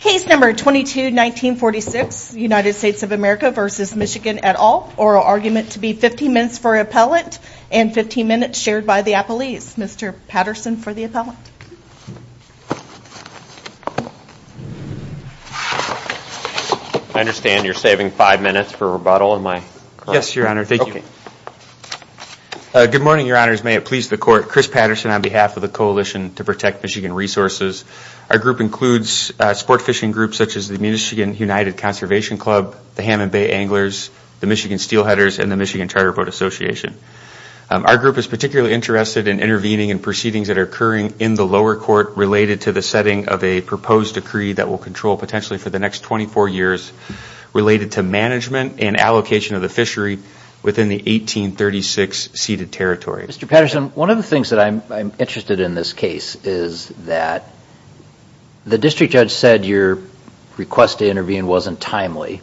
Case number 22-1946, United States of America v. Michigan et al., oral argument to be 15 minutes for appellant and 15 minutes shared by the appellees. Mr. Patterson for the appellant. I understand you're saving five minutes for rebuttal. Yes, your honor. Thank you. Good morning, your honors. May it please the court, Chris Patterson on behalf of the Coalition to Protect Michigan Resources. Our group includes sport fishing groups such as the Michigan United Conservation Club, the Hammond Bay Anglers, the Michigan Steelheaders, and the Michigan Charter Boat Association. Our group is particularly interested in intervening in proceedings that are occurring in the lower court related to the setting of a proposed decree that will control potentially for the next 24 years related to management and allocation of the fishery within the 1836 ceded territory. Mr. Patterson, one of the things that I'm interested in this case is that the district judge said your request to intervene wasn't timely.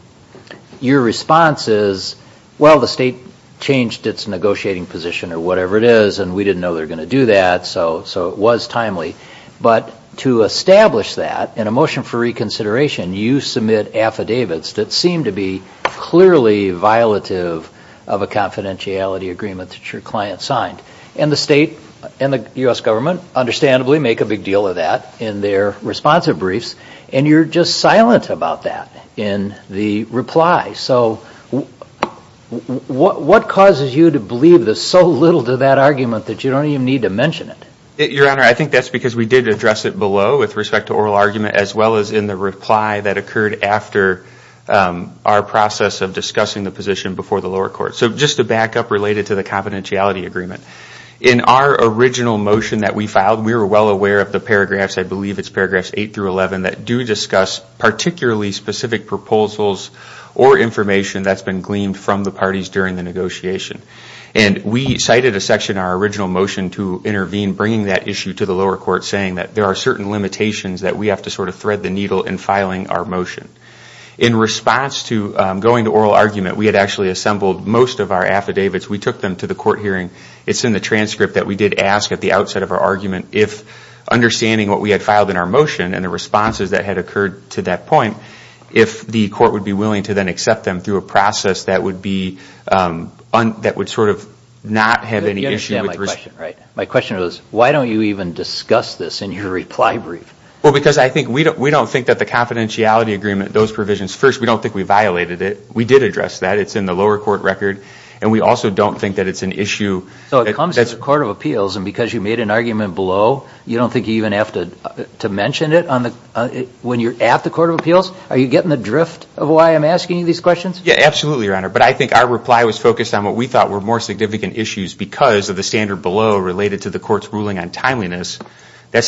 Your response is, well, the state changed its negotiating position or whatever it is and we didn't know they were going to do that, so it was timely. But to establish that, in a motion for reconsideration, you submit affidavits that seem to be and the state and the U.S. government understandably make a big deal of that in their responsive briefs, and you're just silent about that in the reply. So what causes you to believe so little to that argument that you don't even need to mention it? Your honor, I think that's because we did address it below with respect to oral argument as well as in the reply that occurred after our process of discussing the position before the lower court. So just to back up related to the confidentiality agreement, in our original motion that we filed, we were well aware of the paragraphs, I believe it's paragraphs 8 through 11, that do discuss particularly specific proposals or information that's been gleaned from the parties during the negotiation. And we cited a section in our original motion to intervene, bringing that issue to the lower court, saying that there are certain limitations that we have to sort of thread the needle in filing our motion. In response to going to oral argument, we had actually assembled most of our affidavits. We took them to the court hearing. It's in the transcript that we did ask at the outset of our argument if, understanding what we had filed in our motion and the responses that had occurred to that point, if the court would be willing to then accept them through a process that would sort of not have any issue. My question was, why don't you even discuss this in your reply brief? Well, because I think we don't think that the confidentiality agreement, those provisions, first, we don't think we violated it. We did address that. It's in the lower court record. And we also don't think that it's an issue. So it comes to the Court of Appeals, and because you made an argument below, you don't think you even have to mention it when you're at the standard below related to the court's ruling on timeliness. I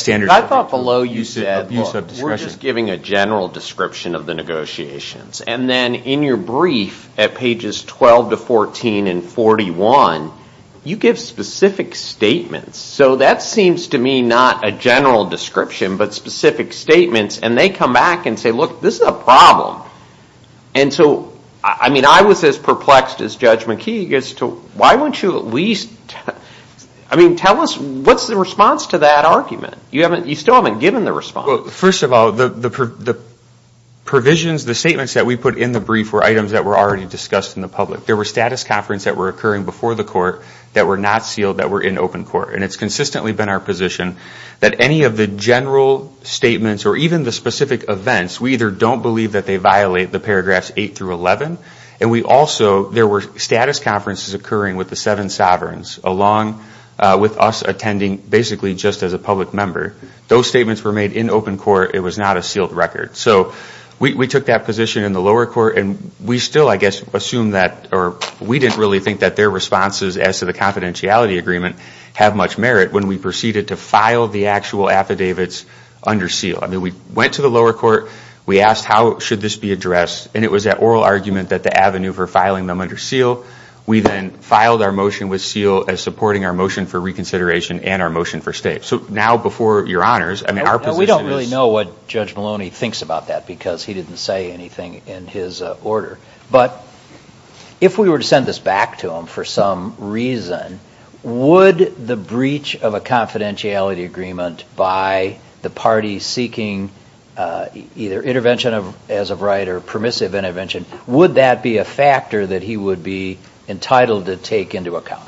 thought below you said, look, we're just giving a general description of the negotiations. And then in your brief at pages 12-14 and 41, you give specific statements. So that seems to me not a general description, but specific statements. And they come back and say, look, this is a problem. And so, I mean, I was as perplexed as Judge McKeague as to why won't you at least I mean, tell us, what's the response to that argument? You still haven't given the response. Well, first of all, the provisions, the statements that we put in the brief were items that were already discussed in the public. There were status conference that were occurring before the court that were not sealed that were in open court. And it's consistently been our view that statements or even the specific events, we either don't believe that they violate the paragraphs 8-11, and we also there were status conferences occurring with the seven sovereigns along with us attending basically just as a public member. Those statements were made in open court. It was not a sealed record. So we took that position in the lower court, and we still, I guess, assume that or we didn't really think that their responses as to the I mean, we went to the lower court, we asked how should this be addressed, and it was that oral argument that the avenue for filing them under seal. We then filed our motion with seal as supporting our motion for reconsideration and our motion for state. So now before your honors, I mean, our position is... We don't really know what Judge Maloney thinks about that because he didn't say anything in his order. But if we were to send this back to him for some reason, would the breach of a confidentiality agreement by the party seeking either intervention as of right or permissive intervention, would that be a factor that he would be entitled to take into account?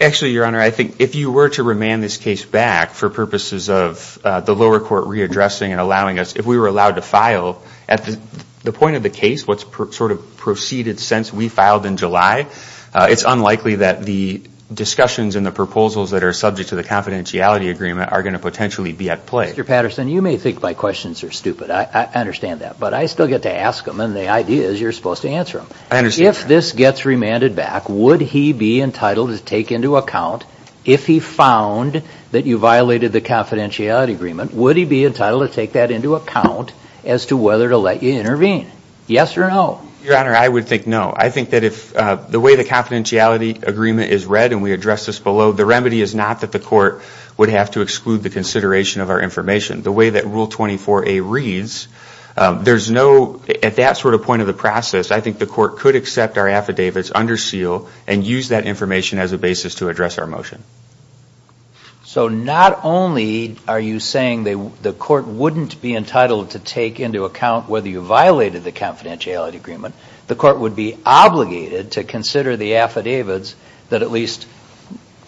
Actually, your honor, I think if you were to remand this case back for purposes of the lower court readdressing and allowing us, if we were to go back to the sort of proceeded sense we filed in July, it's unlikely that the discussions and the proposals that are subject to the confidentiality agreement are going to potentially be at play. Mr. Patterson, you may think my questions are stupid. I understand that. But I still get to ask them, and the idea is you're supposed to answer them. If this gets remanded back, would he be entitled to take into account, if he found that you violated the confidentiality agreement, would he be entitled to take that into account as to whether to let you intervene? Yes or no? Your honor, I would think no. I think that if the way the confidentiality agreement is read and we address this below, the remedy is not that the court would have to exclude the consideration of our information. The way that Rule 24A reads, there's no, at that sort of point of the process, I think the court could accept our affidavits under seal and use that information as a basis to address our motion. So not only are you saying the court wouldn't be entitled to take into account whether you violated the confidentiality agreement, the court would be obligated to consider the affidavits that at least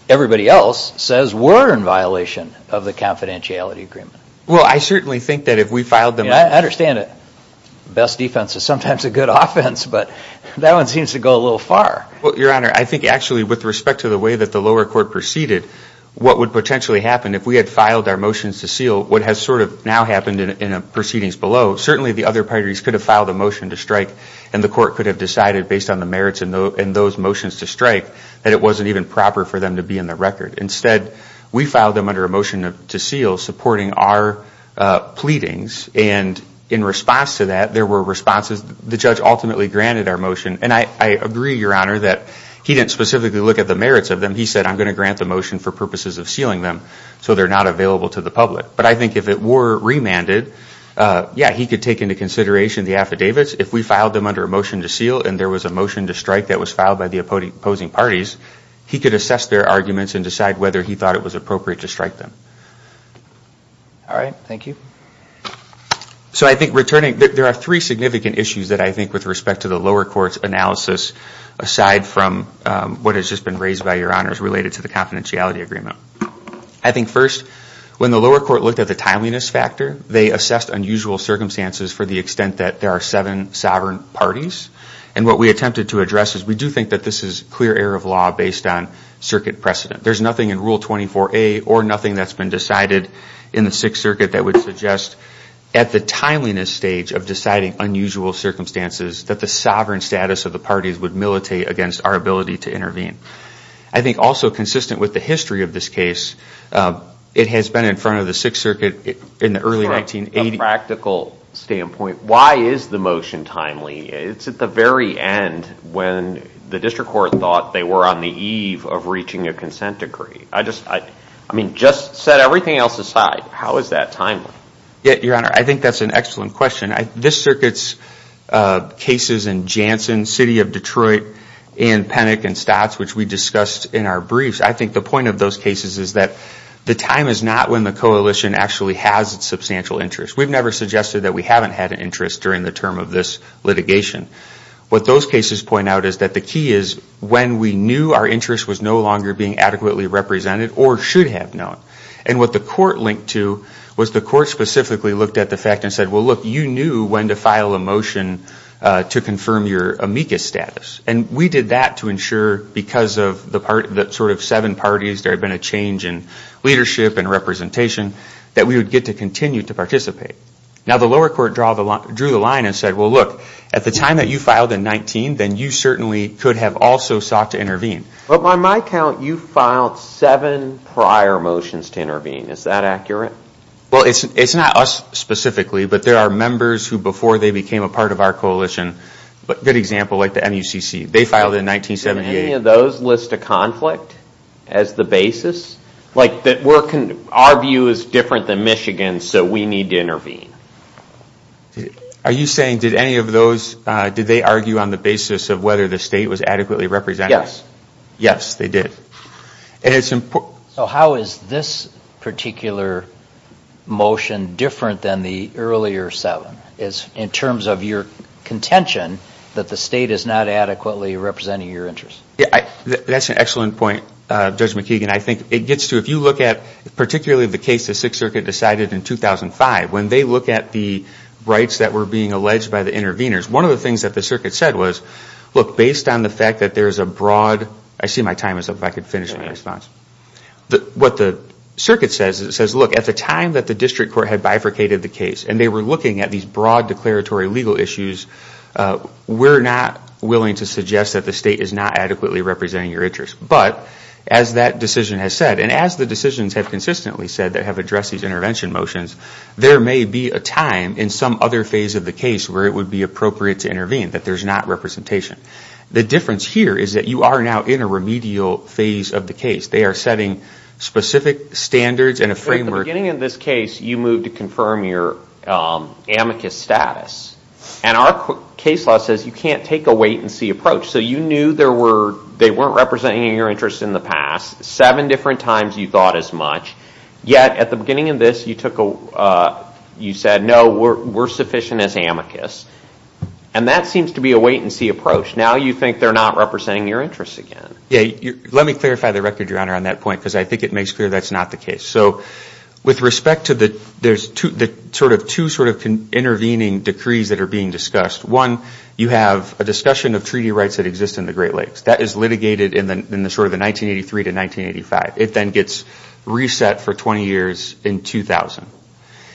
everybody else says were in violation of the confidentiality agreement. Well, I certainly think that if we filed them... I understand that best defense is sometimes a good offense, but that one seems to go a little far. Well, your honor, I think actually with respect to the way that the lower court proceeded, what would potentially happen if we had filed our motions to seal, what has sort of now happened in proceedings below, certainly the other parties could have filed a motion to strike and the court could have decided, based on the merits in those motions to strike, that it wasn't even proper for them to be in the record. Instead, we filed them under a motion to seal supporting our pleadings, and in response to that, there were responses. The judge ultimately granted our motion, and I agree, your honor, that he didn't specifically look at the merits of them. He said, I'm going to grant the motion for purposes of sealing them so they're not available to the public. But I think if it were remanded, yeah, he could take into consideration the affidavits. If we filed them under a motion to seal and there was a motion to strike that was filed by the opposing parties, he could assess their arguments and decide whether he thought it was appropriate to strike them. All right. Thank you. So I think returning, there are three significant issues that I think with respect to the lower court's analysis aside from what has just been raised by your honors related to the confidentiality agreement. I think first, when the lower court looked at the timeliness factor, they assessed unusual circumstances for the extent that there are seven sovereign parties, and what we attempted to address is we do think that this is clear error of law based on circuit precedent. There's nothing in Rule 24A or nothing that's been decided in the Sixth Circuit that would suggest at the timeliness stage of deciding unusual circumstances that the sovereign status of the parties would militate against our ability to intervene. I think also consistent with the history of this case, it has been in front of the Sixth Circuit in the early 1980s. From a practical standpoint, why is the motion timely? It's at the very end when the district court thought that it was timely to decide whether they were on the eve of reaching a consent decree. I mean, just set everything else aside. How is that timely? Yeah, your honor, I think that's an excellent question. This circuit's cases in Janssen, City of Detroit, and Penick and Stotts, which we discussed in our briefs, I think the point of those cases is that the time is not when the coalition actually has substantial interest. We've never suggested that we haven't had an interest during the term of this litigation. What those cases point out is that the key is when we knew our interest was no longer being adequately represented or should have known. And what the court linked to was the court specifically looked at the fact and said, well, look, you knew when to file a motion to confirm your amicus status. And we did that to ensure, because of the sort of seven parties, there had been a change in leadership and representation, that we would get to continue to participate. Now, the lower court drew the line and said, well, look, at the time that you filed in 19, then you certainly could have also sought to intervene. Well, on my count, you filed seven prior motions to intervene. Is that accurate? Well, it's not us specifically, but there are members who, before they became a part of our coalition, a good example, like the NUCC, they filed in 1978. Did any of those list a conflict as the basis? Like, our view is different than Michigan's, so we need to intervene. Are you saying did any of those, did they argue on the basis of whether the state was adequately represented? Yes. Yes, they did. So how is this particular motion different than the earlier seven, in terms of your contention that the state is not adequately representing your interest? That's an excellent point, Judge McKeegan. I think it gets to, if you look at particularly the case the Sixth Circuit decided in 2005, when they look at the rights that were being alleged by the interveners, one of the things that the circuit said was, look, based on the fact that there's a broad, I see my time is up, if I could finish my response. What the circuit says is it says, look, at the time that the district court had bifurcated the case and they were looking at these broad declaratory legal issues, we're not willing to suggest that the state is not adequately representing your interest. But, as that decision has said, and as the decisions have consistently said that have addressed these intervention motions, there may be a time in some other phase of the case where it would be appropriate to intervene, that there's not representation. The difference here is that you are now in a remedial phase of the case. They are setting specific standards and a framework. At the beginning of this case, you moved to confirm your amicus status. And our case law says you can't take a wait-and-see approach. So you knew they weren't representing your interest in the past. Seven different times you thought as much. Yet, at the beginning of this, you said, no, we're sufficient as amicus. And that seems to be a wait-and-see approach. Now you think they're not representing your interest again. Let me clarify the record, Your Honor, on that point because I think it makes clear that's not the case. So with respect to the sort of two sort of intervening decrees that are being discussed, one, you have a discussion of treaty rights that exist in the Great Lakes. That is litigated in sort of the 1983 to 1985. It then gets reset for 20 years in 2000.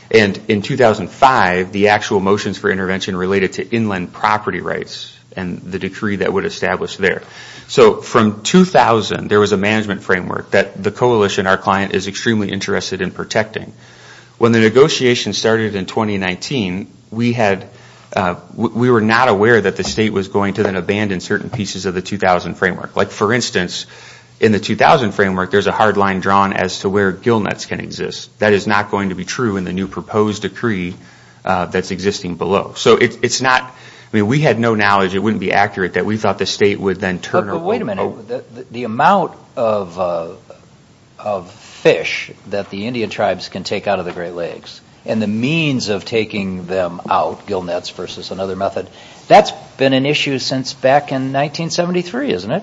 And in 2005, the actual motions for intervention related to inland property rights and the decree that would establish there. So from 2000, there was a management framework that the coalition, our client, is extremely interested in protecting. When the negotiation started in 2019, we were not aware that the state was going to then abandon certain pieces of the 2000 framework. Like, for instance, in the 2000 framework, there's a hard line drawn as to where gillnets can exist. That is not going to be true in the new proposed decree that's existing below. So it's not, I mean, we had no knowledge, it wouldn't be accurate, that we thought the state would then turn our way. But wait a minute. The amount of fish that the Indian tribes can take out of the Great Lakes and the means of taking them out, gillnets versus another method, that's been an issue since back in 1973, isn't it?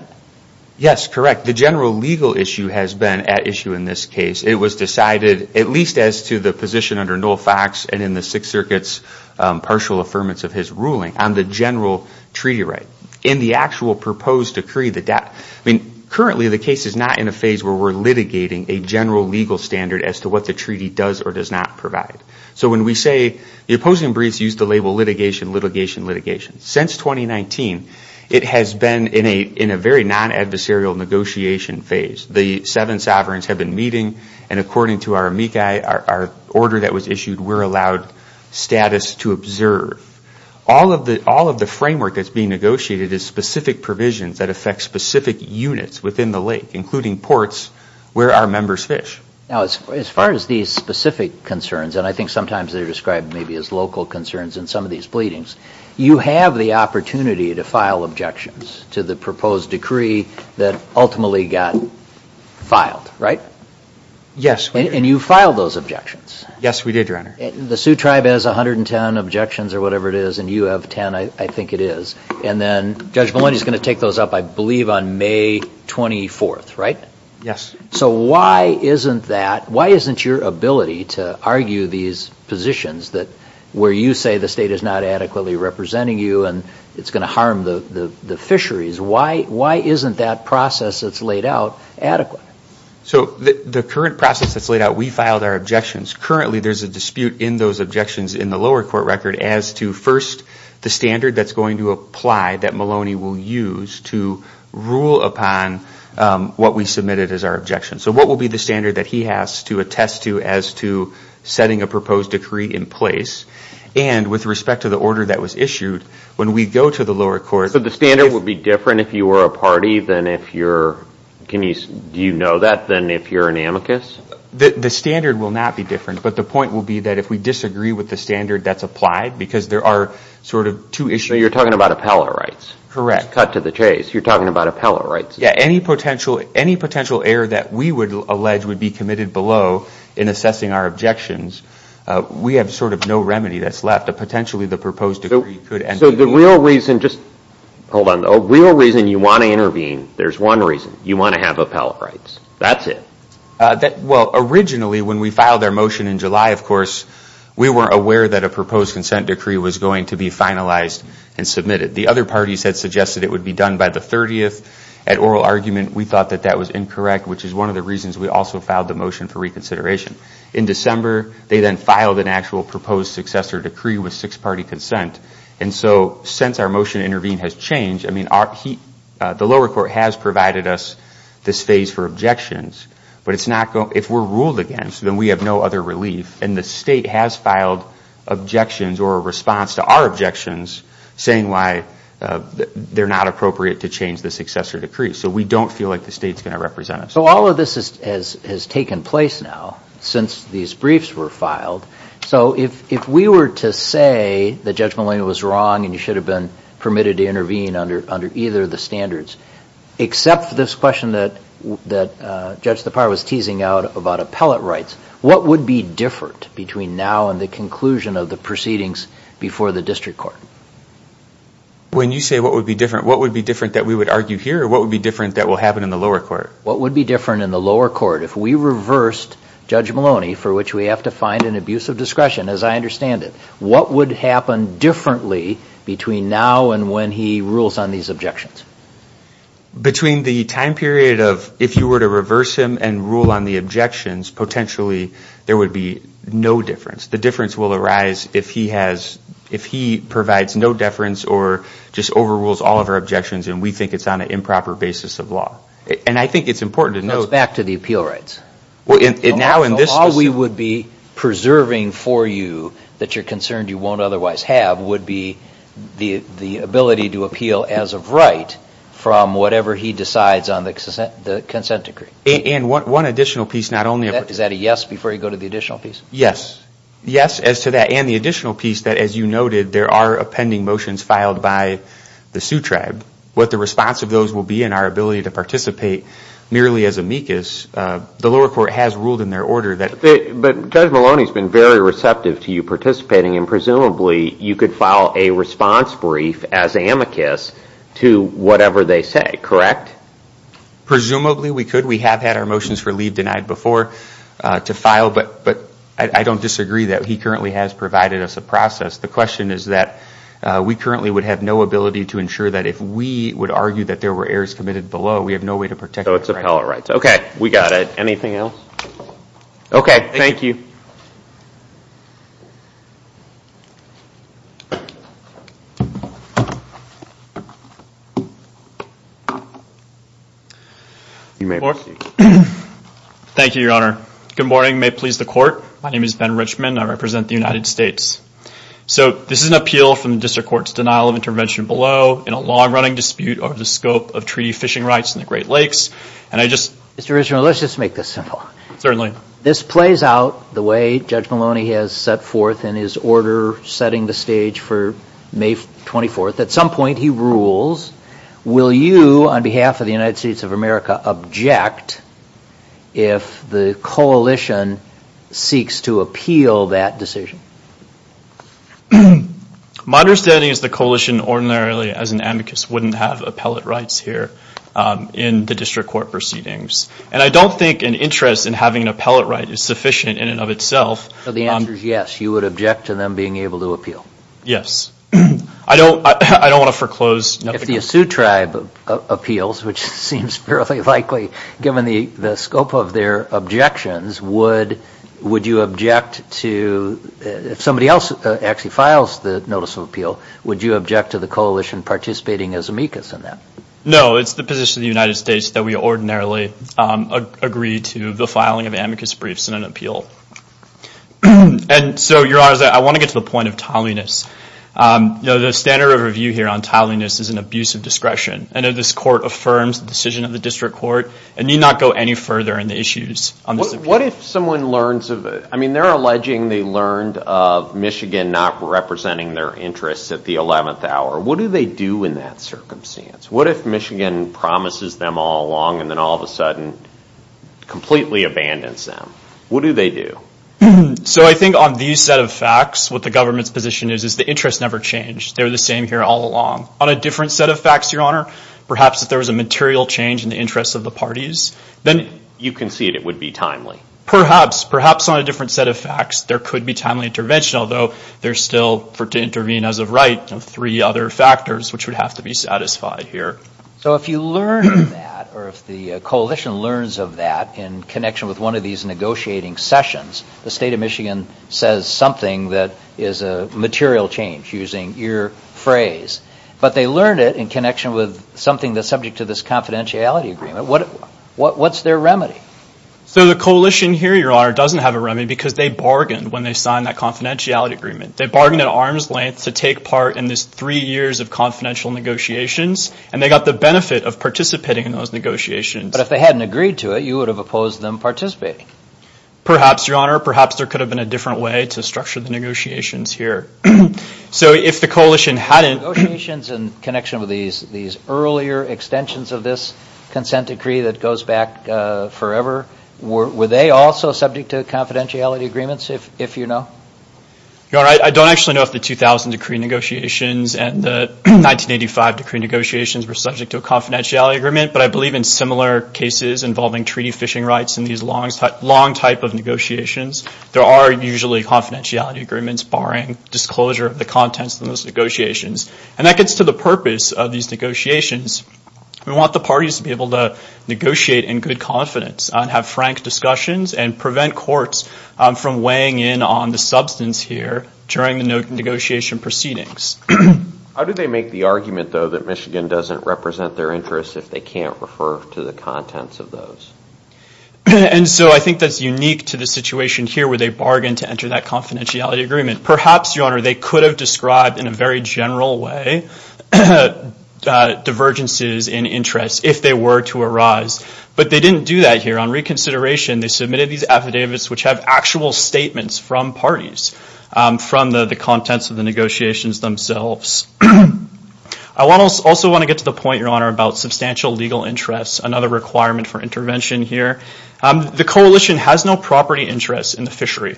Yes, correct. The general legal issue has been at issue in this case. It was decided, at least as to the position under Noel Fox and in the Sixth Circuit's partial affirmance of his ruling, on the general treaty right. In the actual proposed decree, I mean, currently the case is not in a phase where we're litigating a general legal standard as to what the treaty does or does not provide. So when we say, the opposing briefs use the label litigation, litigation, litigation. Since 2019, it has been in a very non-adversarial negotiation phase. The seven sovereigns have been meeting, and according to our amici, our order that was issued, we're allowed status to observe. All of the framework that's being negotiated is specific provisions that affect specific units within the lake, including ports where our members fish. Now, as far as these specific concerns, and I think sometimes they're described maybe as local concerns in some of these pleadings, you have the opportunity to file objections to the proposed decree that ultimately got filed, right? Yes. And you filed those objections. Yes, we did, Your Honor. The Sioux Tribe has 110 objections or whatever it is, and you have 10, I think it is. And then Judge Maloney is going to take those up, I believe, on May 24th, right? Yes. So why isn't that, why isn't your ability to argue these positions where you say the state is not adequately representing you and it's going to harm the fisheries, why isn't that process that's laid out adequate? So the current process that's laid out, we filed our objections. Currently, there's a dispute in those objections in the lower court record as to first the standard that's going to apply that Maloney will use to rule upon what we submitted as our objection. So what will be the standard that he has to attest to as to setting a proposed decree in place? And with respect to the order that was issued, when we go to the lower court. So the standard would be different if you were a party than if you're, do you know that, than if you're an amicus? The standard will not be different, but the point will be that if we disagree with the standard that's applied, because there are sort of two issues. So you're talking about appellate rights? Correct. Cut to the chase. You're talking about appellate rights. Yeah. Any potential error that we would allege would be committed below in assessing our objections, we have sort of no remedy that's left. Potentially, the proposed decree could end. So the real reason, just hold on. The real reason you want to intervene, there's one reason. You want to have appellate rights. That's it. Well, originally, when we filed our motion in July, of course, we were aware that a proposed consent decree was going to be finalized and submitted. The other parties had suggested it would be done by the 30th. At oral argument, we thought that that was incorrect, which is one of the reasons we also filed the motion for reconsideration. In December, they then filed an actual proposed successor decree with six-party consent. And so since our motion to intervene has changed, I mean, the lower court has provided us this phase for objections. But if we're ruled against, then we have no other relief. And the state has filed objections or a response to our objections, saying why they're not appropriate to change the successor decree. So we don't feel like the state's going to represent us. So all of this has taken place now since these briefs were filed. So if we were to say that Judge Maloney was wrong and you should have been permitted to intervene under either of the standards, except for this question that Judge Tappara was teasing out about appellate rights, what would be different between now and the conclusion of the proceedings before the district court? When you say what would be different, what would be different that we would argue here or what would be different that will happen in the lower court? What would be different in the lower court? If we reversed Judge Maloney, for which we have to find an abuse of discretion, as I understand it, what would happen differently between now and when he rules on these objections? Between the time period of if you were to reverse him and rule on the objections, potentially there would be no difference. The difference will arise if he provides no deference or just overrules all of our objections and we think it's on an improper basis of law. And I think it's important to know that. So it's back to the appeal rights. All we would be preserving for you that you're concerned you won't otherwise have would be the ability to appeal as of right from whatever he decides on the consent decree. And one additional piece, not only... Is that a yes before you go to the additional piece? Yes. Yes, as to that. And the additional piece that, as you noted, there are appending motions filed by the Sioux Tribe. What the response of those will be and our ability to participate merely as amicus, the lower court has ruled in their order that... But Judge Maloney has been very receptive to you participating and presumably you could file a response brief as amicus to whatever they say, correct? Presumably we could. We have had our motions for leave denied before to file, but I don't disagree that he currently has provided us a process. The question is that we currently would have no ability to ensure that if we would argue that there were errors committed below, we have no way to protect... So it's appellate rights. Okay. We got it. Anything else? Okay. Thank you. You may proceed. Thank you, Your Honor. Good morning. May it please the Court. My name is Ben Richman. I represent the United States. So this is an appeal from the District Court's denial of intervention below in a long-running dispute over the scope of treaty fishing rights in the Great Lakes. And I just... Mr. Richman, let's just make this simple. Certainly. This plays out the way Judge Maloney has set forth in his order setting the stage for May 24th. At some point, he rules. Will you, on behalf of the United States of America, object if the coalition seeks to appeal that decision? My understanding is the coalition ordinarily, as an amicus, wouldn't have appellate rights here in the District Court proceedings. And I don't think an interest in having an appellate right is sufficient in and of itself. So the answer is yes, you would object to them being able to appeal. Yes. I don't want to foreclose. If the Asu tribe appeals, which seems fairly likely, given the scope of their objections, would you object to... If somebody else actually files the notice of appeal, would you object to the coalition participating as amicus in that? No. It's the position of the United States that we ordinarily agree to the filing of amicus briefs in an appeal. The standard of review here on tiling this is an abuse of discretion. I know this court affirms the decision of the District Court. It need not go any further in the issues. What if someone learns of it? I mean, they're alleging they learned of Michigan not representing their interests at the 11th hour. What do they do in that circumstance? What if Michigan promises them all along and then all of a sudden completely abandons them? What do they do? So I think on these set of facts, what the government's position is, is the interests never change. They're the same here all along. On a different set of facts, Your Honor, perhaps if there was a material change in the interests of the parties, then... You concede it would be timely. Perhaps. Perhaps on a different set of facts there could be timely intervention, although there's still for it to intervene as of right three other factors which would have to be satisfied here. So if you learn that, or if the coalition learns of that in connection with one of these negotiating sessions, the state of Michigan says something that is a material change, using your phrase. But they learn it in connection with something that's subject to this confidentiality agreement. What's their remedy? So the coalition here, Your Honor, doesn't have a remedy because they bargained when they signed that confidentiality agreement. They bargained at arm's length to take part in this three years of confidential negotiations, and they got the benefit of participating in those negotiations. But if they hadn't agreed to it, you would have opposed them participating. Perhaps, Your Honor. Perhaps there could have been a different way to structure the negotiations here. So if the coalition hadn't... Negotiations in connection with these earlier extensions of this consent decree that goes back forever, were they also subject to confidentiality agreements, if you know? Your Honor, I don't actually know if the 2000 decree negotiations and the 1985 decree negotiations were subject to a confidentiality agreement, but I believe in similar cases involving treaty fishing rights in these long type of negotiations, there are usually confidentiality agreements barring disclosure of the contents of those negotiations. And that gets to the purpose of these negotiations. We want the parties to be able to negotiate in good confidence and have frank discussions and prevent courts from weighing in on the substance here during the negotiation proceedings. How do they make the argument, though, that Michigan doesn't represent their interests if they can't refer to the contents of those? And so I think that's unique to the situation here where they bargained to enter that confidentiality agreement. Perhaps, Your Honor, they could have described in a very general way divergences in interest if they were to arise. But they didn't do that here. On reconsideration, they submitted these affidavits which have actual statements from parties, from the contents of the negotiations themselves. I also want to get to the point, Your Honor, about substantial legal interests, another requirement for intervention here. The coalition has no property interests in the fishery.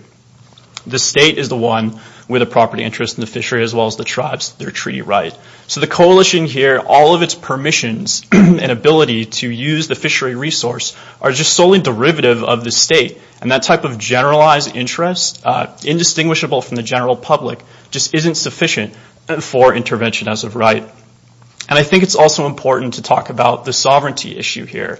The state is the one with a property interest in the fishery as well as the tribes, their treaty right. So the coalition here, all of its permissions and ability to use the fishery resource are just solely derivative of the state. And that type of generalized interest, indistinguishable from the general public, just isn't sufficient for intervention as of right. And I think it's also important to talk about the sovereignty issue here.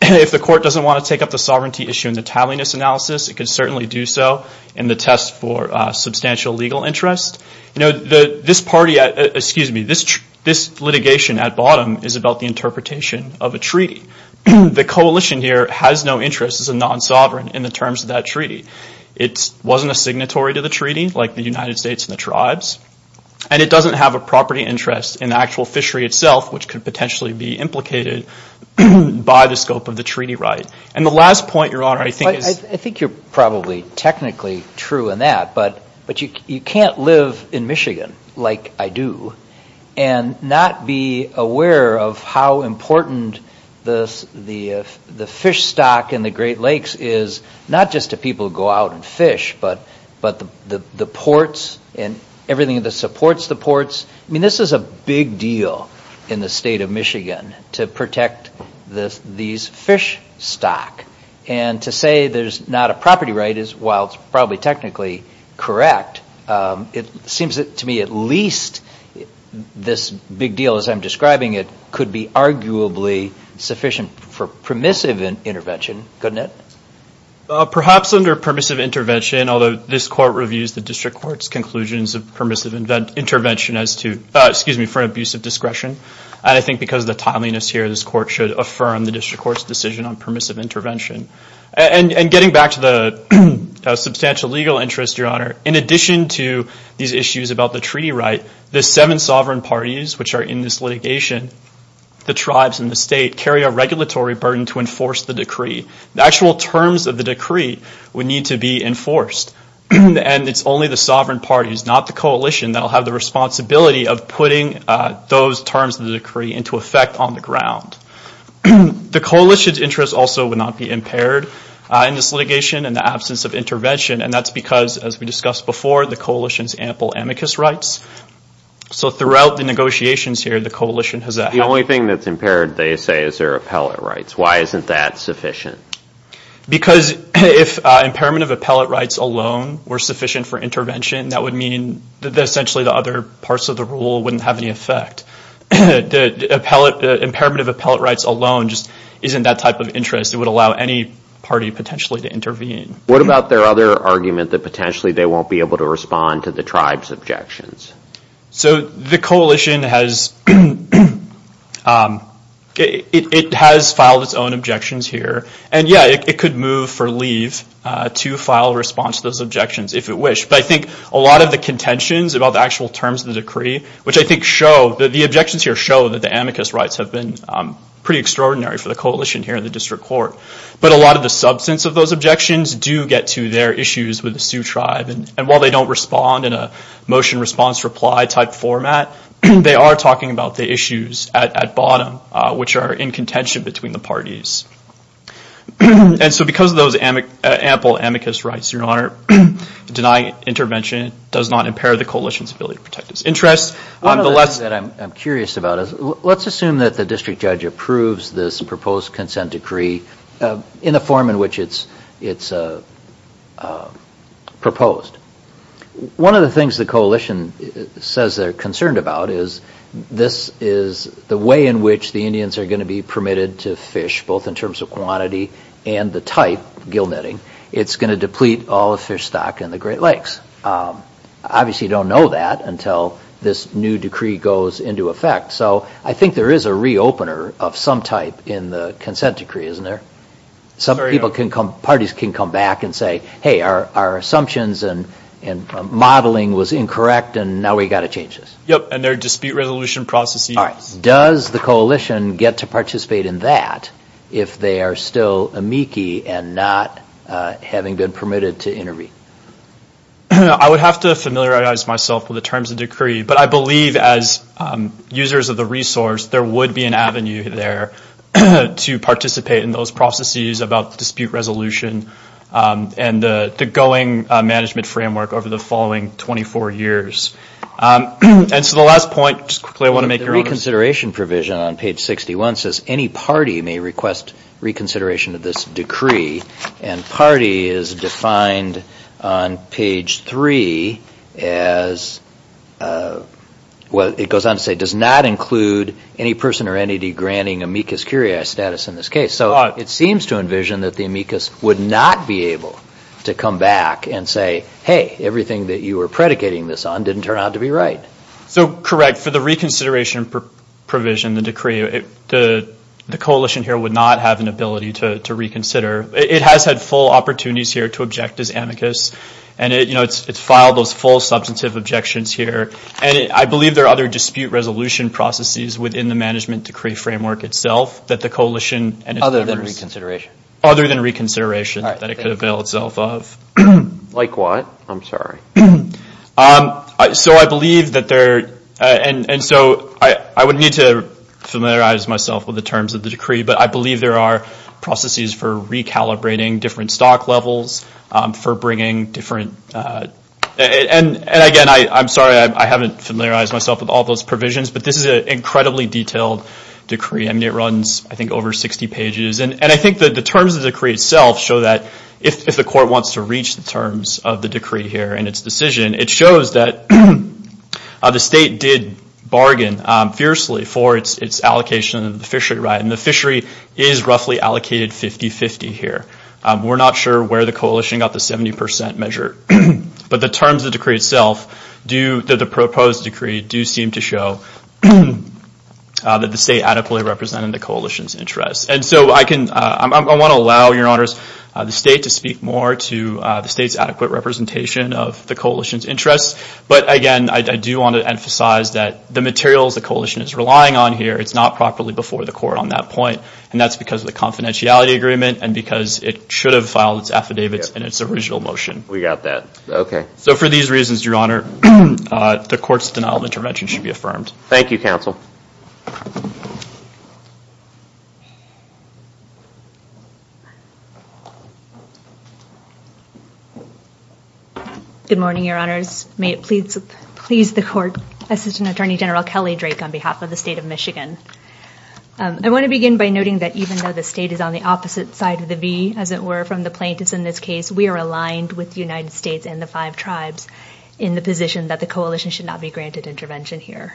If the court doesn't want to take up the sovereignty issue in the tallyness analysis, it can certainly do so in the test for substantial legal interest. This litigation at bottom is about the interpretation of a treaty. The coalition here has no interest as a non-sovereign in the terms of that treaty. It wasn't a signatory to the treaty, like the United States and the tribes, and it doesn't have a property interest in the actual fishery itself, which could potentially be implicated by the scope of the treaty right. And the last point, Your Honor, I think is... I think you're probably technically true in that, but you can't live in Michigan like I do and not be aware of how important the fish stock in the Great Lakes is, not just to people who go out and fish, but the ports and everything that supports the ports. I mean, this is a big deal in the state of Michigan to protect these fish stock. And to say there's not a property right is, while it's probably technically correct, it seems to me at least this big deal, as I'm describing it, could be arguably sufficient for permissive intervention, couldn't it? Perhaps under permissive intervention, although this court reviews the district court's conclusions of permissive intervention as to... excuse me, for an abuse of discretion. And I think because of the timeliness here, this court should affirm the district court's decision on permissive intervention. And getting back to the substantial legal interest, Your Honor, in addition to these issues about the treaty right, the seven sovereign parties, which are in this litigation, the tribes and the state, carry a regulatory burden to enforce the decree. The actual terms of the decree would need to be enforced. And it's only the sovereign parties, not the coalition, that will have the responsibility of putting those terms of the decree into effect on the ground. The coalition's interest also would not be impaired in this litigation in the absence of intervention, and that's because, as we discussed before, the coalition's ample amicus rights. So throughout the negotiations here, the coalition has... The only thing that's impaired, they say, is their appellate rights. Why isn't that sufficient? Because if impairment of appellate rights alone were sufficient for intervention, that would mean that essentially the other parts of the rule wouldn't have any effect. The impairment of appellate rights alone just isn't that type of interest. It would allow any party potentially to intervene. What about their other argument that potentially they won't be able to respond to the tribe's objections? So the coalition has filed its own objections here. And, yeah, it could move for leave to file a response to those objections if it wished. But I think a lot of the contentions about the actual terms of the decree, which I think show that the objections here show that the amicus rights have been pretty extraordinary for the coalition here in the district court. But a lot of the substance of those objections do get to their issues with the Sioux tribe. And while they don't respond in a motion-response-reply type format, they are talking about the issues at bottom, which are in contention between the parties. And so because of those ample amicus rights, Your Honor, denying intervention does not impair the coalition's ability to protect its interests. One of the things that I'm curious about is let's assume that the district judge approves this proposed consent decree in the form in which it's proposed. One of the things the coalition says they're concerned about is this is the way in which the Indians are going to be permitted to fish, both in terms of quantity and the type, gill netting. It's going to deplete all the fish stock in the Great Lakes. Obviously, you don't know that until this new decree goes into effect. So I think there is a re-opener of some type in the consent decree, isn't there? Some people can come, parties can come back and say, hey, our assumptions and modeling was incorrect, and now we've got to change this. Yep, and their dispute resolution processes. All right. Does the coalition get to participate in that if they are still amici and not having been permitted to intervene? I would have to familiarize myself with the terms of decree, but I believe as users of the resource there would be an avenue there to participate in those processes about dispute resolution and the going management framework over the following 24 years. And so the last point, just quickly, I want to make your own... The reconsideration provision on page 61 says any party may request reconsideration of this decree, and party is defined on page 3 as, well, it goes on to say, does not include any person or entity granting amicus curiae status in this case. So it seems to envision that the amicus would not be able to come back and say, hey, everything that you were predicating this on didn't turn out to be right. So correct. For the reconsideration provision, the decree, the coalition here would not have an ability to reconsider. It has had full opportunities here to object as amicus, and it's filed those full substantive objections here. And I believe there are other dispute resolution processes within the management decree framework itself that the coalition... Other than reconsideration. Other than reconsideration that it could avail itself of. Like what? I'm sorry. So I believe that there... And so I would need to familiarize myself with the terms of the decree, but I believe there are processes for recalibrating different stock levels, for bringing different... And again, I'm sorry, I haven't familiarized myself with all those provisions, but this is an incredibly detailed decree. I mean, it runs, I think, over 60 pages. And I think that the terms of the decree itself show that if the court wants to reach the terms of the decree here and its decision, it shows that the state did bargain fiercely for its allocation of the fishery right, and the fishery is roughly allocated 50-50 here. We're not sure where the coalition got the 70 percent measure, but the terms of the decree itself do, that the proposed decree, do seem to show that the state adequately represented the coalition's interests. And so I want to allow, Your Honors, the state to speak more to the state's adequate representation of the coalition's interests. But again, I do want to emphasize that the materials the coalition is relying on here, it's not properly before the court on that point, and that's because of the confidentiality agreement and because it should have filed its affidavits in its original motion. We got that. Okay. So for these reasons, Your Honor, the court's denial of intervention should be affirmed. Thank you, counsel. Good morning, Your Honors. May it please the court, Assistant Attorney General Kelly Drake on behalf of the state of Michigan. I want to begin by noting that even though the state is on the opposite side of the V, as it were, from the plaintiffs in this case, we are aligned with the United States and the five tribes in the position that the coalition should not be granted intervention here.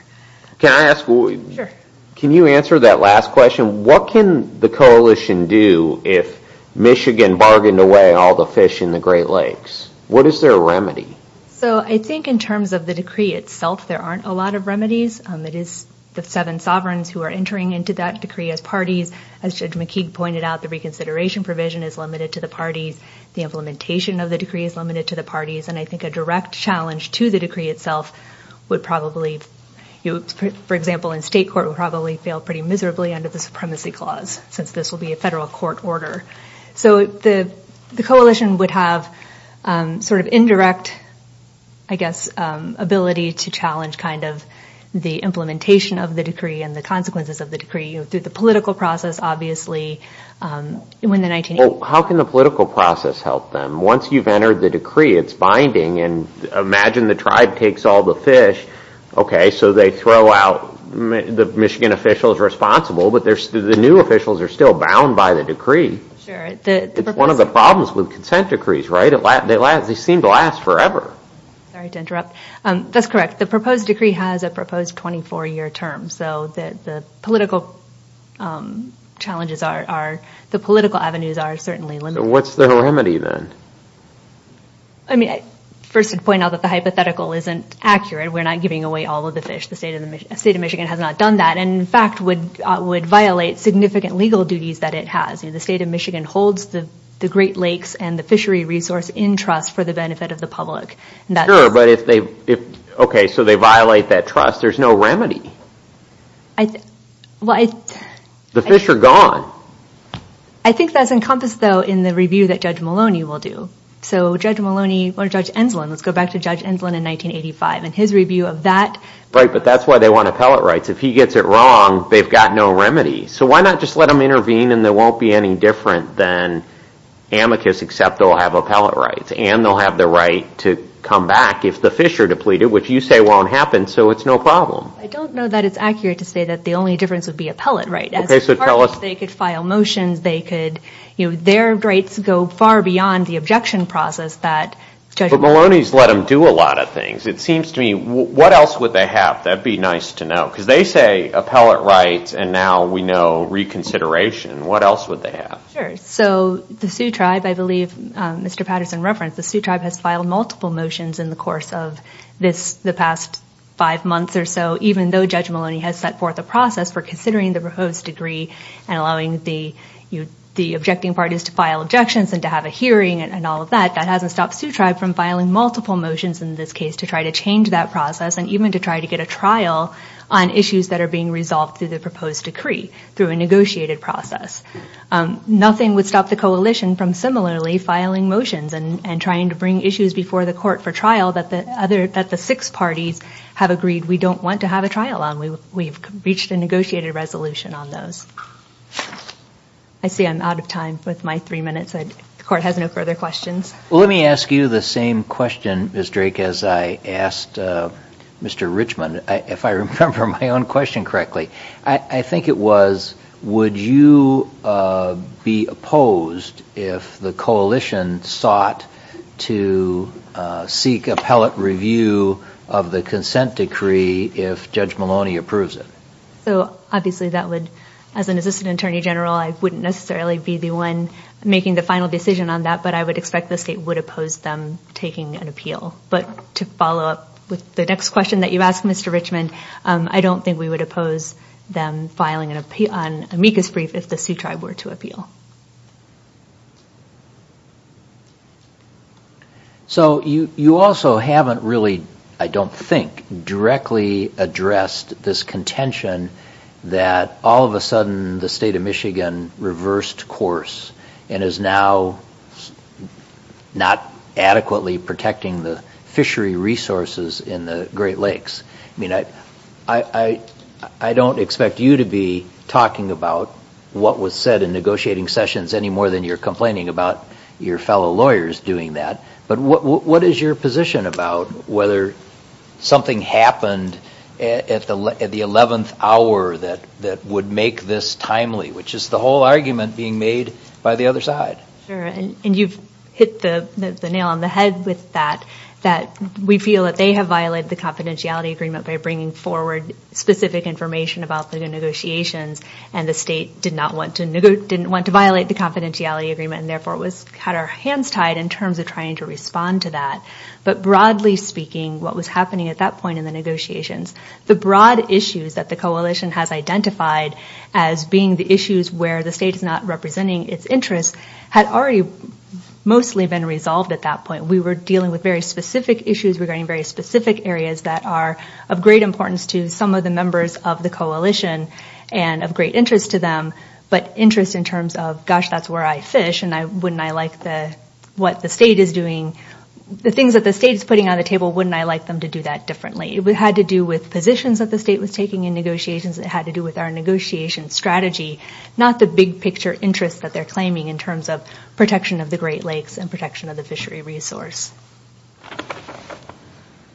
Can I ask, can you answer that last question? What can the coalition do if Michigan bargained away all the fish in the Great Lakes? What is their remedy? So I think in terms of the decree itself, there aren't a lot of remedies. It is the seven sovereigns who are entering into that decree as parties. As Judge McKeague pointed out, the reconsideration provision is limited to the parties. The implementation of the decree is limited to the parties. And I think a direct challenge to the decree itself would probably, for example, in state court would probably fail pretty miserably under the Supremacy Clause, since this will be a federal court order. So the coalition would have sort of indirect, I guess, ability to challenge kind of the implementation of the decree and the consequences of the decree through the political process, obviously. How can the political process help them? Once you've entered the decree, it's binding. And imagine the tribe takes all the fish. Okay, so they throw out the Michigan officials responsible, but the new officials are still bound by the decree. It's one of the problems with consent decrees, right? They seem to last forever. Sorry to interrupt. That's correct. The proposed decree has a proposed 24-year term. So the political challenges are, the political avenues are certainly limited. So what's the remedy then? I mean, first I'd point out that the hypothetical isn't accurate. We're not giving away all of the fish. The state of Michigan has not done that and, in fact, would violate significant legal duties that it has. The state of Michigan holds the Great Lakes and the fishery resource in trust for the benefit of the public. Okay, so they violate that trust. There's no remedy. The fish are gone. I think that's encompassed, though, in the review that Judge Maloney will do. So Judge Maloney or Judge Enslin, let's go back to Judge Enslin in 1985 and his review of that. Right, but that's why they want appellate rights. If he gets it wrong, they've got no remedy. So why not just let them intervene and it won't be any different than amicus, except they'll have appellate rights and they'll have the right to come back if the fish are depleted, which you say won't happen, so it's no problem. I don't know that it's accurate to say that the only difference would be appellate rights. Okay, so tell us. As far as they could file motions, they could, you know, their rights go far beyond the objection process that Judge Maloney. But Maloney's let them do a lot of things. It seems to me, what else would they have that would be nice to know? Because they say appellate rights and now we know reconsideration. What else would they have? Sure, so the Sioux Tribe, I believe Mr. Patterson referenced, the Sioux Tribe has filed multiple motions in the course of the past five months or so, even though Judge Maloney has set forth a process for considering the proposed degree and allowing the objecting parties to file objections and to have a hearing and all of that, that hasn't stopped Sioux Tribe from filing multiple motions in this case to try to change that process and even to try to get a trial on issues that are being resolved through the proposed decree, through a negotiated process. Nothing would stop the coalition from similarly filing motions and trying to bring issues before the court for trial that the six parties have agreed we don't want to have a trial on. We've reached a negotiated resolution on those. I see I'm out of time with my three minutes. The court has no further questions. Well, let me ask you the same question, Ms. Drake, as I asked Mr. Richmond, if I remember my own question correctly. I think it was, would you be opposed if the coalition sought to seek appellate review of the consent decree if Judge Maloney approves it? So obviously that would, as an assistant attorney general, I wouldn't necessarily be the one making the final decision on that, but I would expect the state would oppose them taking an appeal. But to follow up with the next question that you asked, Mr. Richmond, I don't think we would oppose them filing an amicus brief if the Sioux Tribe were to appeal. So you also haven't really, I don't think, directly addressed this contention that all of a sudden the state of Michigan reversed course and is now not adequately protecting the fishery resources in the Great Lakes. I mean, I don't expect you to be talking about what was said in negotiating sessions any more than you're complaining about your fellow lawyers doing that. But what is your position about whether something happened at the 11th hour that would make this timely, which is the whole argument being made by the other side? Sure, and you've hit the nail on the head with that, that we feel that they have violated the confidentiality agreement by bringing forward specific information about the negotiations and the state did not want to, didn't want to violate the confidentiality agreement and therefore had our hands tied in terms of trying to respond to that. But broadly speaking, what was happening at that point in the negotiations, the broad issues that the coalition has identified as being the issues where the state is not representing its interests had already mostly been resolved at that point. We were dealing with very specific issues regarding very specific areas that are of great importance to some of the members of the coalition and of great interest to them, but interest in terms of, gosh, that's where I fish and wouldn't I like what the state is doing, the things that the state is putting on the table, wouldn't I like them to do that differently? It had to do with positions that the state was taking in negotiations, it had to do with our negotiation strategy, not the big picture interest that they're claiming in terms of protection of the Great Lakes and protection of the fishery resource.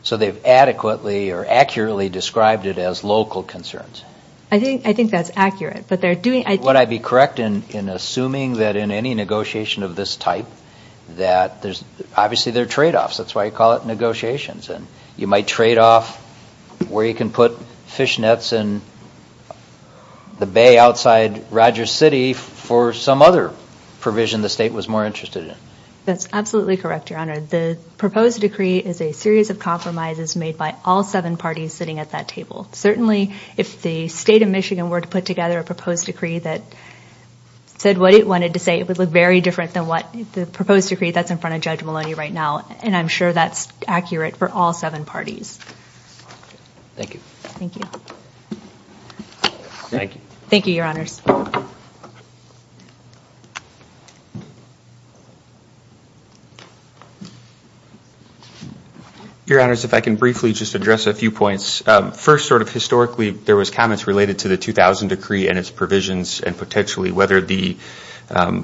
So they've adequately or accurately described it as local concerns? I think that's accurate, but they're doing... Would I be correct in assuming that in any negotiation of this type that there's, obviously there are trade-offs, that's why you call it negotiations and you might trade off where you can put fishnets in the bay outside Rogers City for some other provision the state was more interested in? That's absolutely correct, Your Honor. The proposed decree is a series of compromises made by all seven parties sitting at that table. Certainly, if the state of Michigan were to put together a proposed decree that said what it wanted to say, it would look very different than the proposed decree that's in front of Judge Maloney right now, and I'm sure that's accurate for all seven parties. Thank you. Thank you. Thank you. Thank you, Your Honors. Your Honors, if I can briefly just address a few points. First, sort of historically, there was comments related to the 2000 decree and its provisions and potentially whether the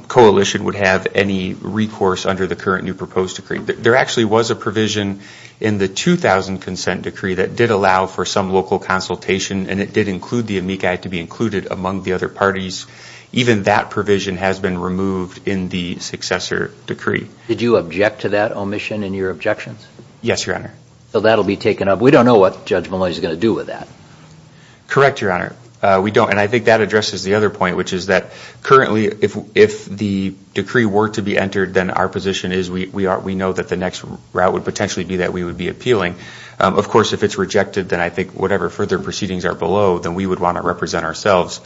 coalition would have any recourse under the current new proposed decree. There actually was a provision in the 2000 consent decree that did allow for some local consultation and it did include the amici to be included among the other parties. Even that provision has been removed in the successor decree. Did you object to that omission in your objections? Yes, Your Honor. So that will be taken up. We don't know what Judge Maloney is going to do with that. Correct, Your Honor. We don't, and I think that addresses the other point, which is that currently, if the decree were to be entered, then our position is we know that the next route would potentially be that we would be appealing. Of course, if it's rejected, then I think whatever further proceedings are below, then we would want to represent ourselves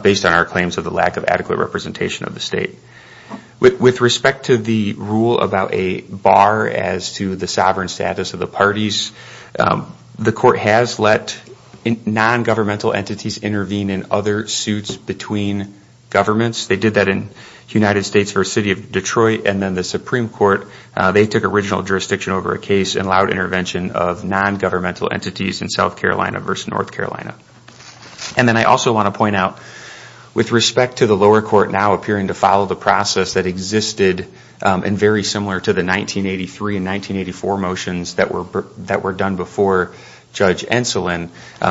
based on our claims of the lack of adequate representation of the state. With respect to the rule about a bar as to the sovereign status of the parties, the court has let non-governmental entities intervene in other suits between governments. They did that in the United States v. City of Detroit, and then the Supreme Court, they took original jurisdiction over a case and allowed intervention of non-governmental entities in South Carolina v. North Carolina. And then I also want to point out, with respect to the lower court now appearing to follow the process that existed and very similar to the 1983 and 1984 motions that were done before Judge Enslin,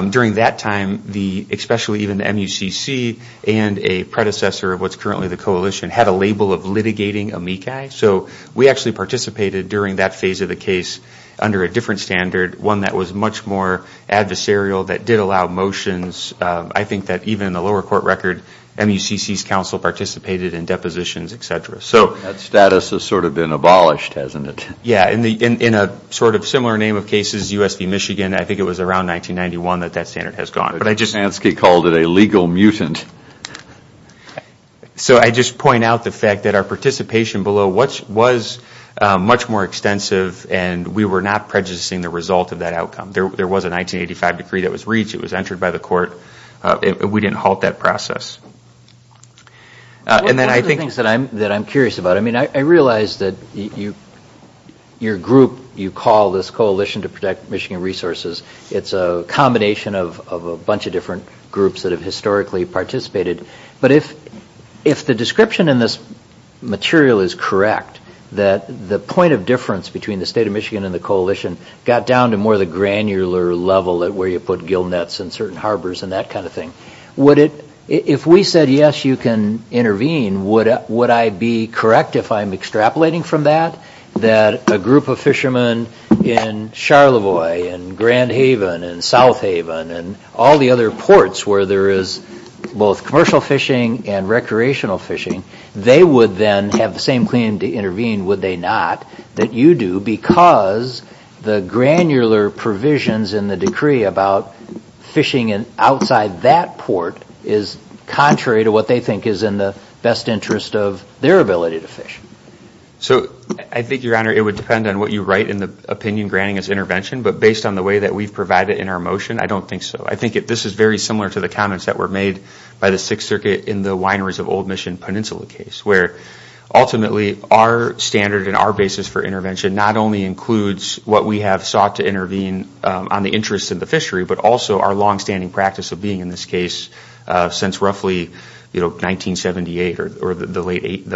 during that time, especially even the MUCC and a predecessor of what's currently the coalition, had a label of litigating amici. So we actually participated during that phase of the case under a different standard, one that was much more adversarial, that did allow motions. I think that even in the lower court record, MUCC's counsel participated in depositions, etc. That status has sort of been abolished, hasn't it? Yeah, in a sort of similar name of cases, U.S. v. Michigan, I think it was around 1991 that that standard has gone. But I just... But Bansky called it a legal mutant. So I just point out the fact that our participation below was much more extensive and we were not prejudicing the result of that outcome. There was a 1985 decree that was reached. It was entered by the court. We didn't halt that process. And then I think... One of the things that I'm curious about, I mean, I realize that your group, you call this Coalition to Protect Michigan Resources. It's a combination of a bunch of different groups that have historically participated. But if the description in this material is correct, that the point of difference between the state of Michigan and the coalition got down to more the granular level at where you put gillnets and certain harbors and that kind of thing, if we said, yes, you can intervene, would I be correct if I'm extrapolating from that? That a group of fishermen in Charlevoix and Grand Haven and South Haven and all the other ports where there is both commercial fishing and recreational fishing, they would then have the same claim to intervene, would they not, that you do because the granular provisions in the decree about fishing outside that port is contrary to what they think is in the best interest of their ability to fish? So I think, Your Honor, it would depend on what you write in the opinion granting as intervention. But based on the way that we've provided in our motion, I don't think so. I think this is very similar to the comments that were made by the Sixth Circuit in the wineries of Old Mission Peninsula case, where ultimately our standard and our basis for intervention not only includes what we have sought to intervene on the interests of the fishery, but also our longstanding practice of being in this case since roughly 1978 or the late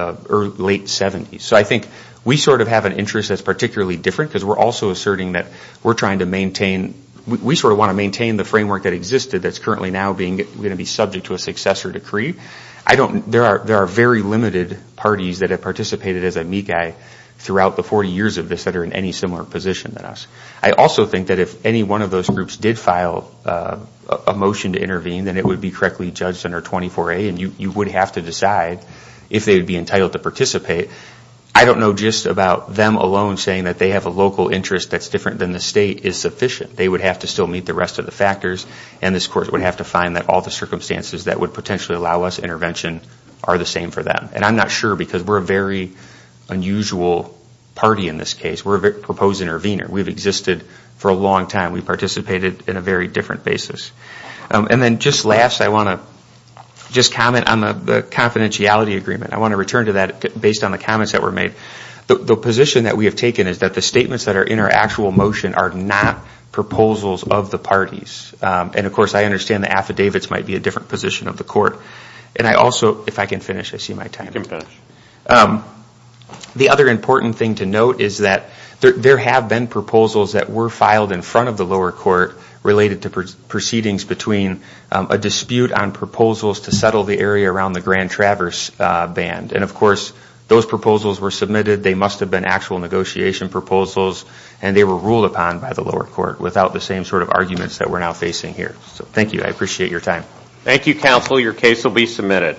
70s. So I think we sort of have an interest that's particularly different because we're also asserting that we're trying to maintain, we sort of want to maintain the framework that existed that's currently now going to be subject to a successor decree. There are very limited parties that have participated as amici throughout the 40 years of this that are in any similar position than us. I also think that if any one of those groups did file a motion to intervene, then it would be correctly judged under 24A, and you would have to decide if they would be entitled to participate. I don't know just about them alone saying that they have a local interest that's different than the state is sufficient. They would have to still meet the rest of the factors, and this Court would have to find that all the circumstances that would potentially allow us intervention are the same for them. And I'm not sure because we're a very unusual party in this case. We're a proposed intervener. We've existed for a long time. We've participated in a very different basis. And then just last, I want to just comment on the confidentiality agreement. I want to return to that based on the comments that were made. The position that we have taken is that the statements that are in our actual motion are not proposals of the parties. And, of course, I understand the affidavits might be a different position of the Court. And I also, if I can finish, I see my time. You can finish. The other important thing to note is that there have been proposals that were filed in front of the lower court related to proceedings between a dispute on proposals to settle the area around the Grand Traverse Band. And, of course, those proposals were submitted. They must have been actual negotiation proposals, and they were ruled upon by the lower court without the same sort of arguments that we're now facing here. So thank you. I appreciate your time. Thank you, counsel. Your case will be submitted.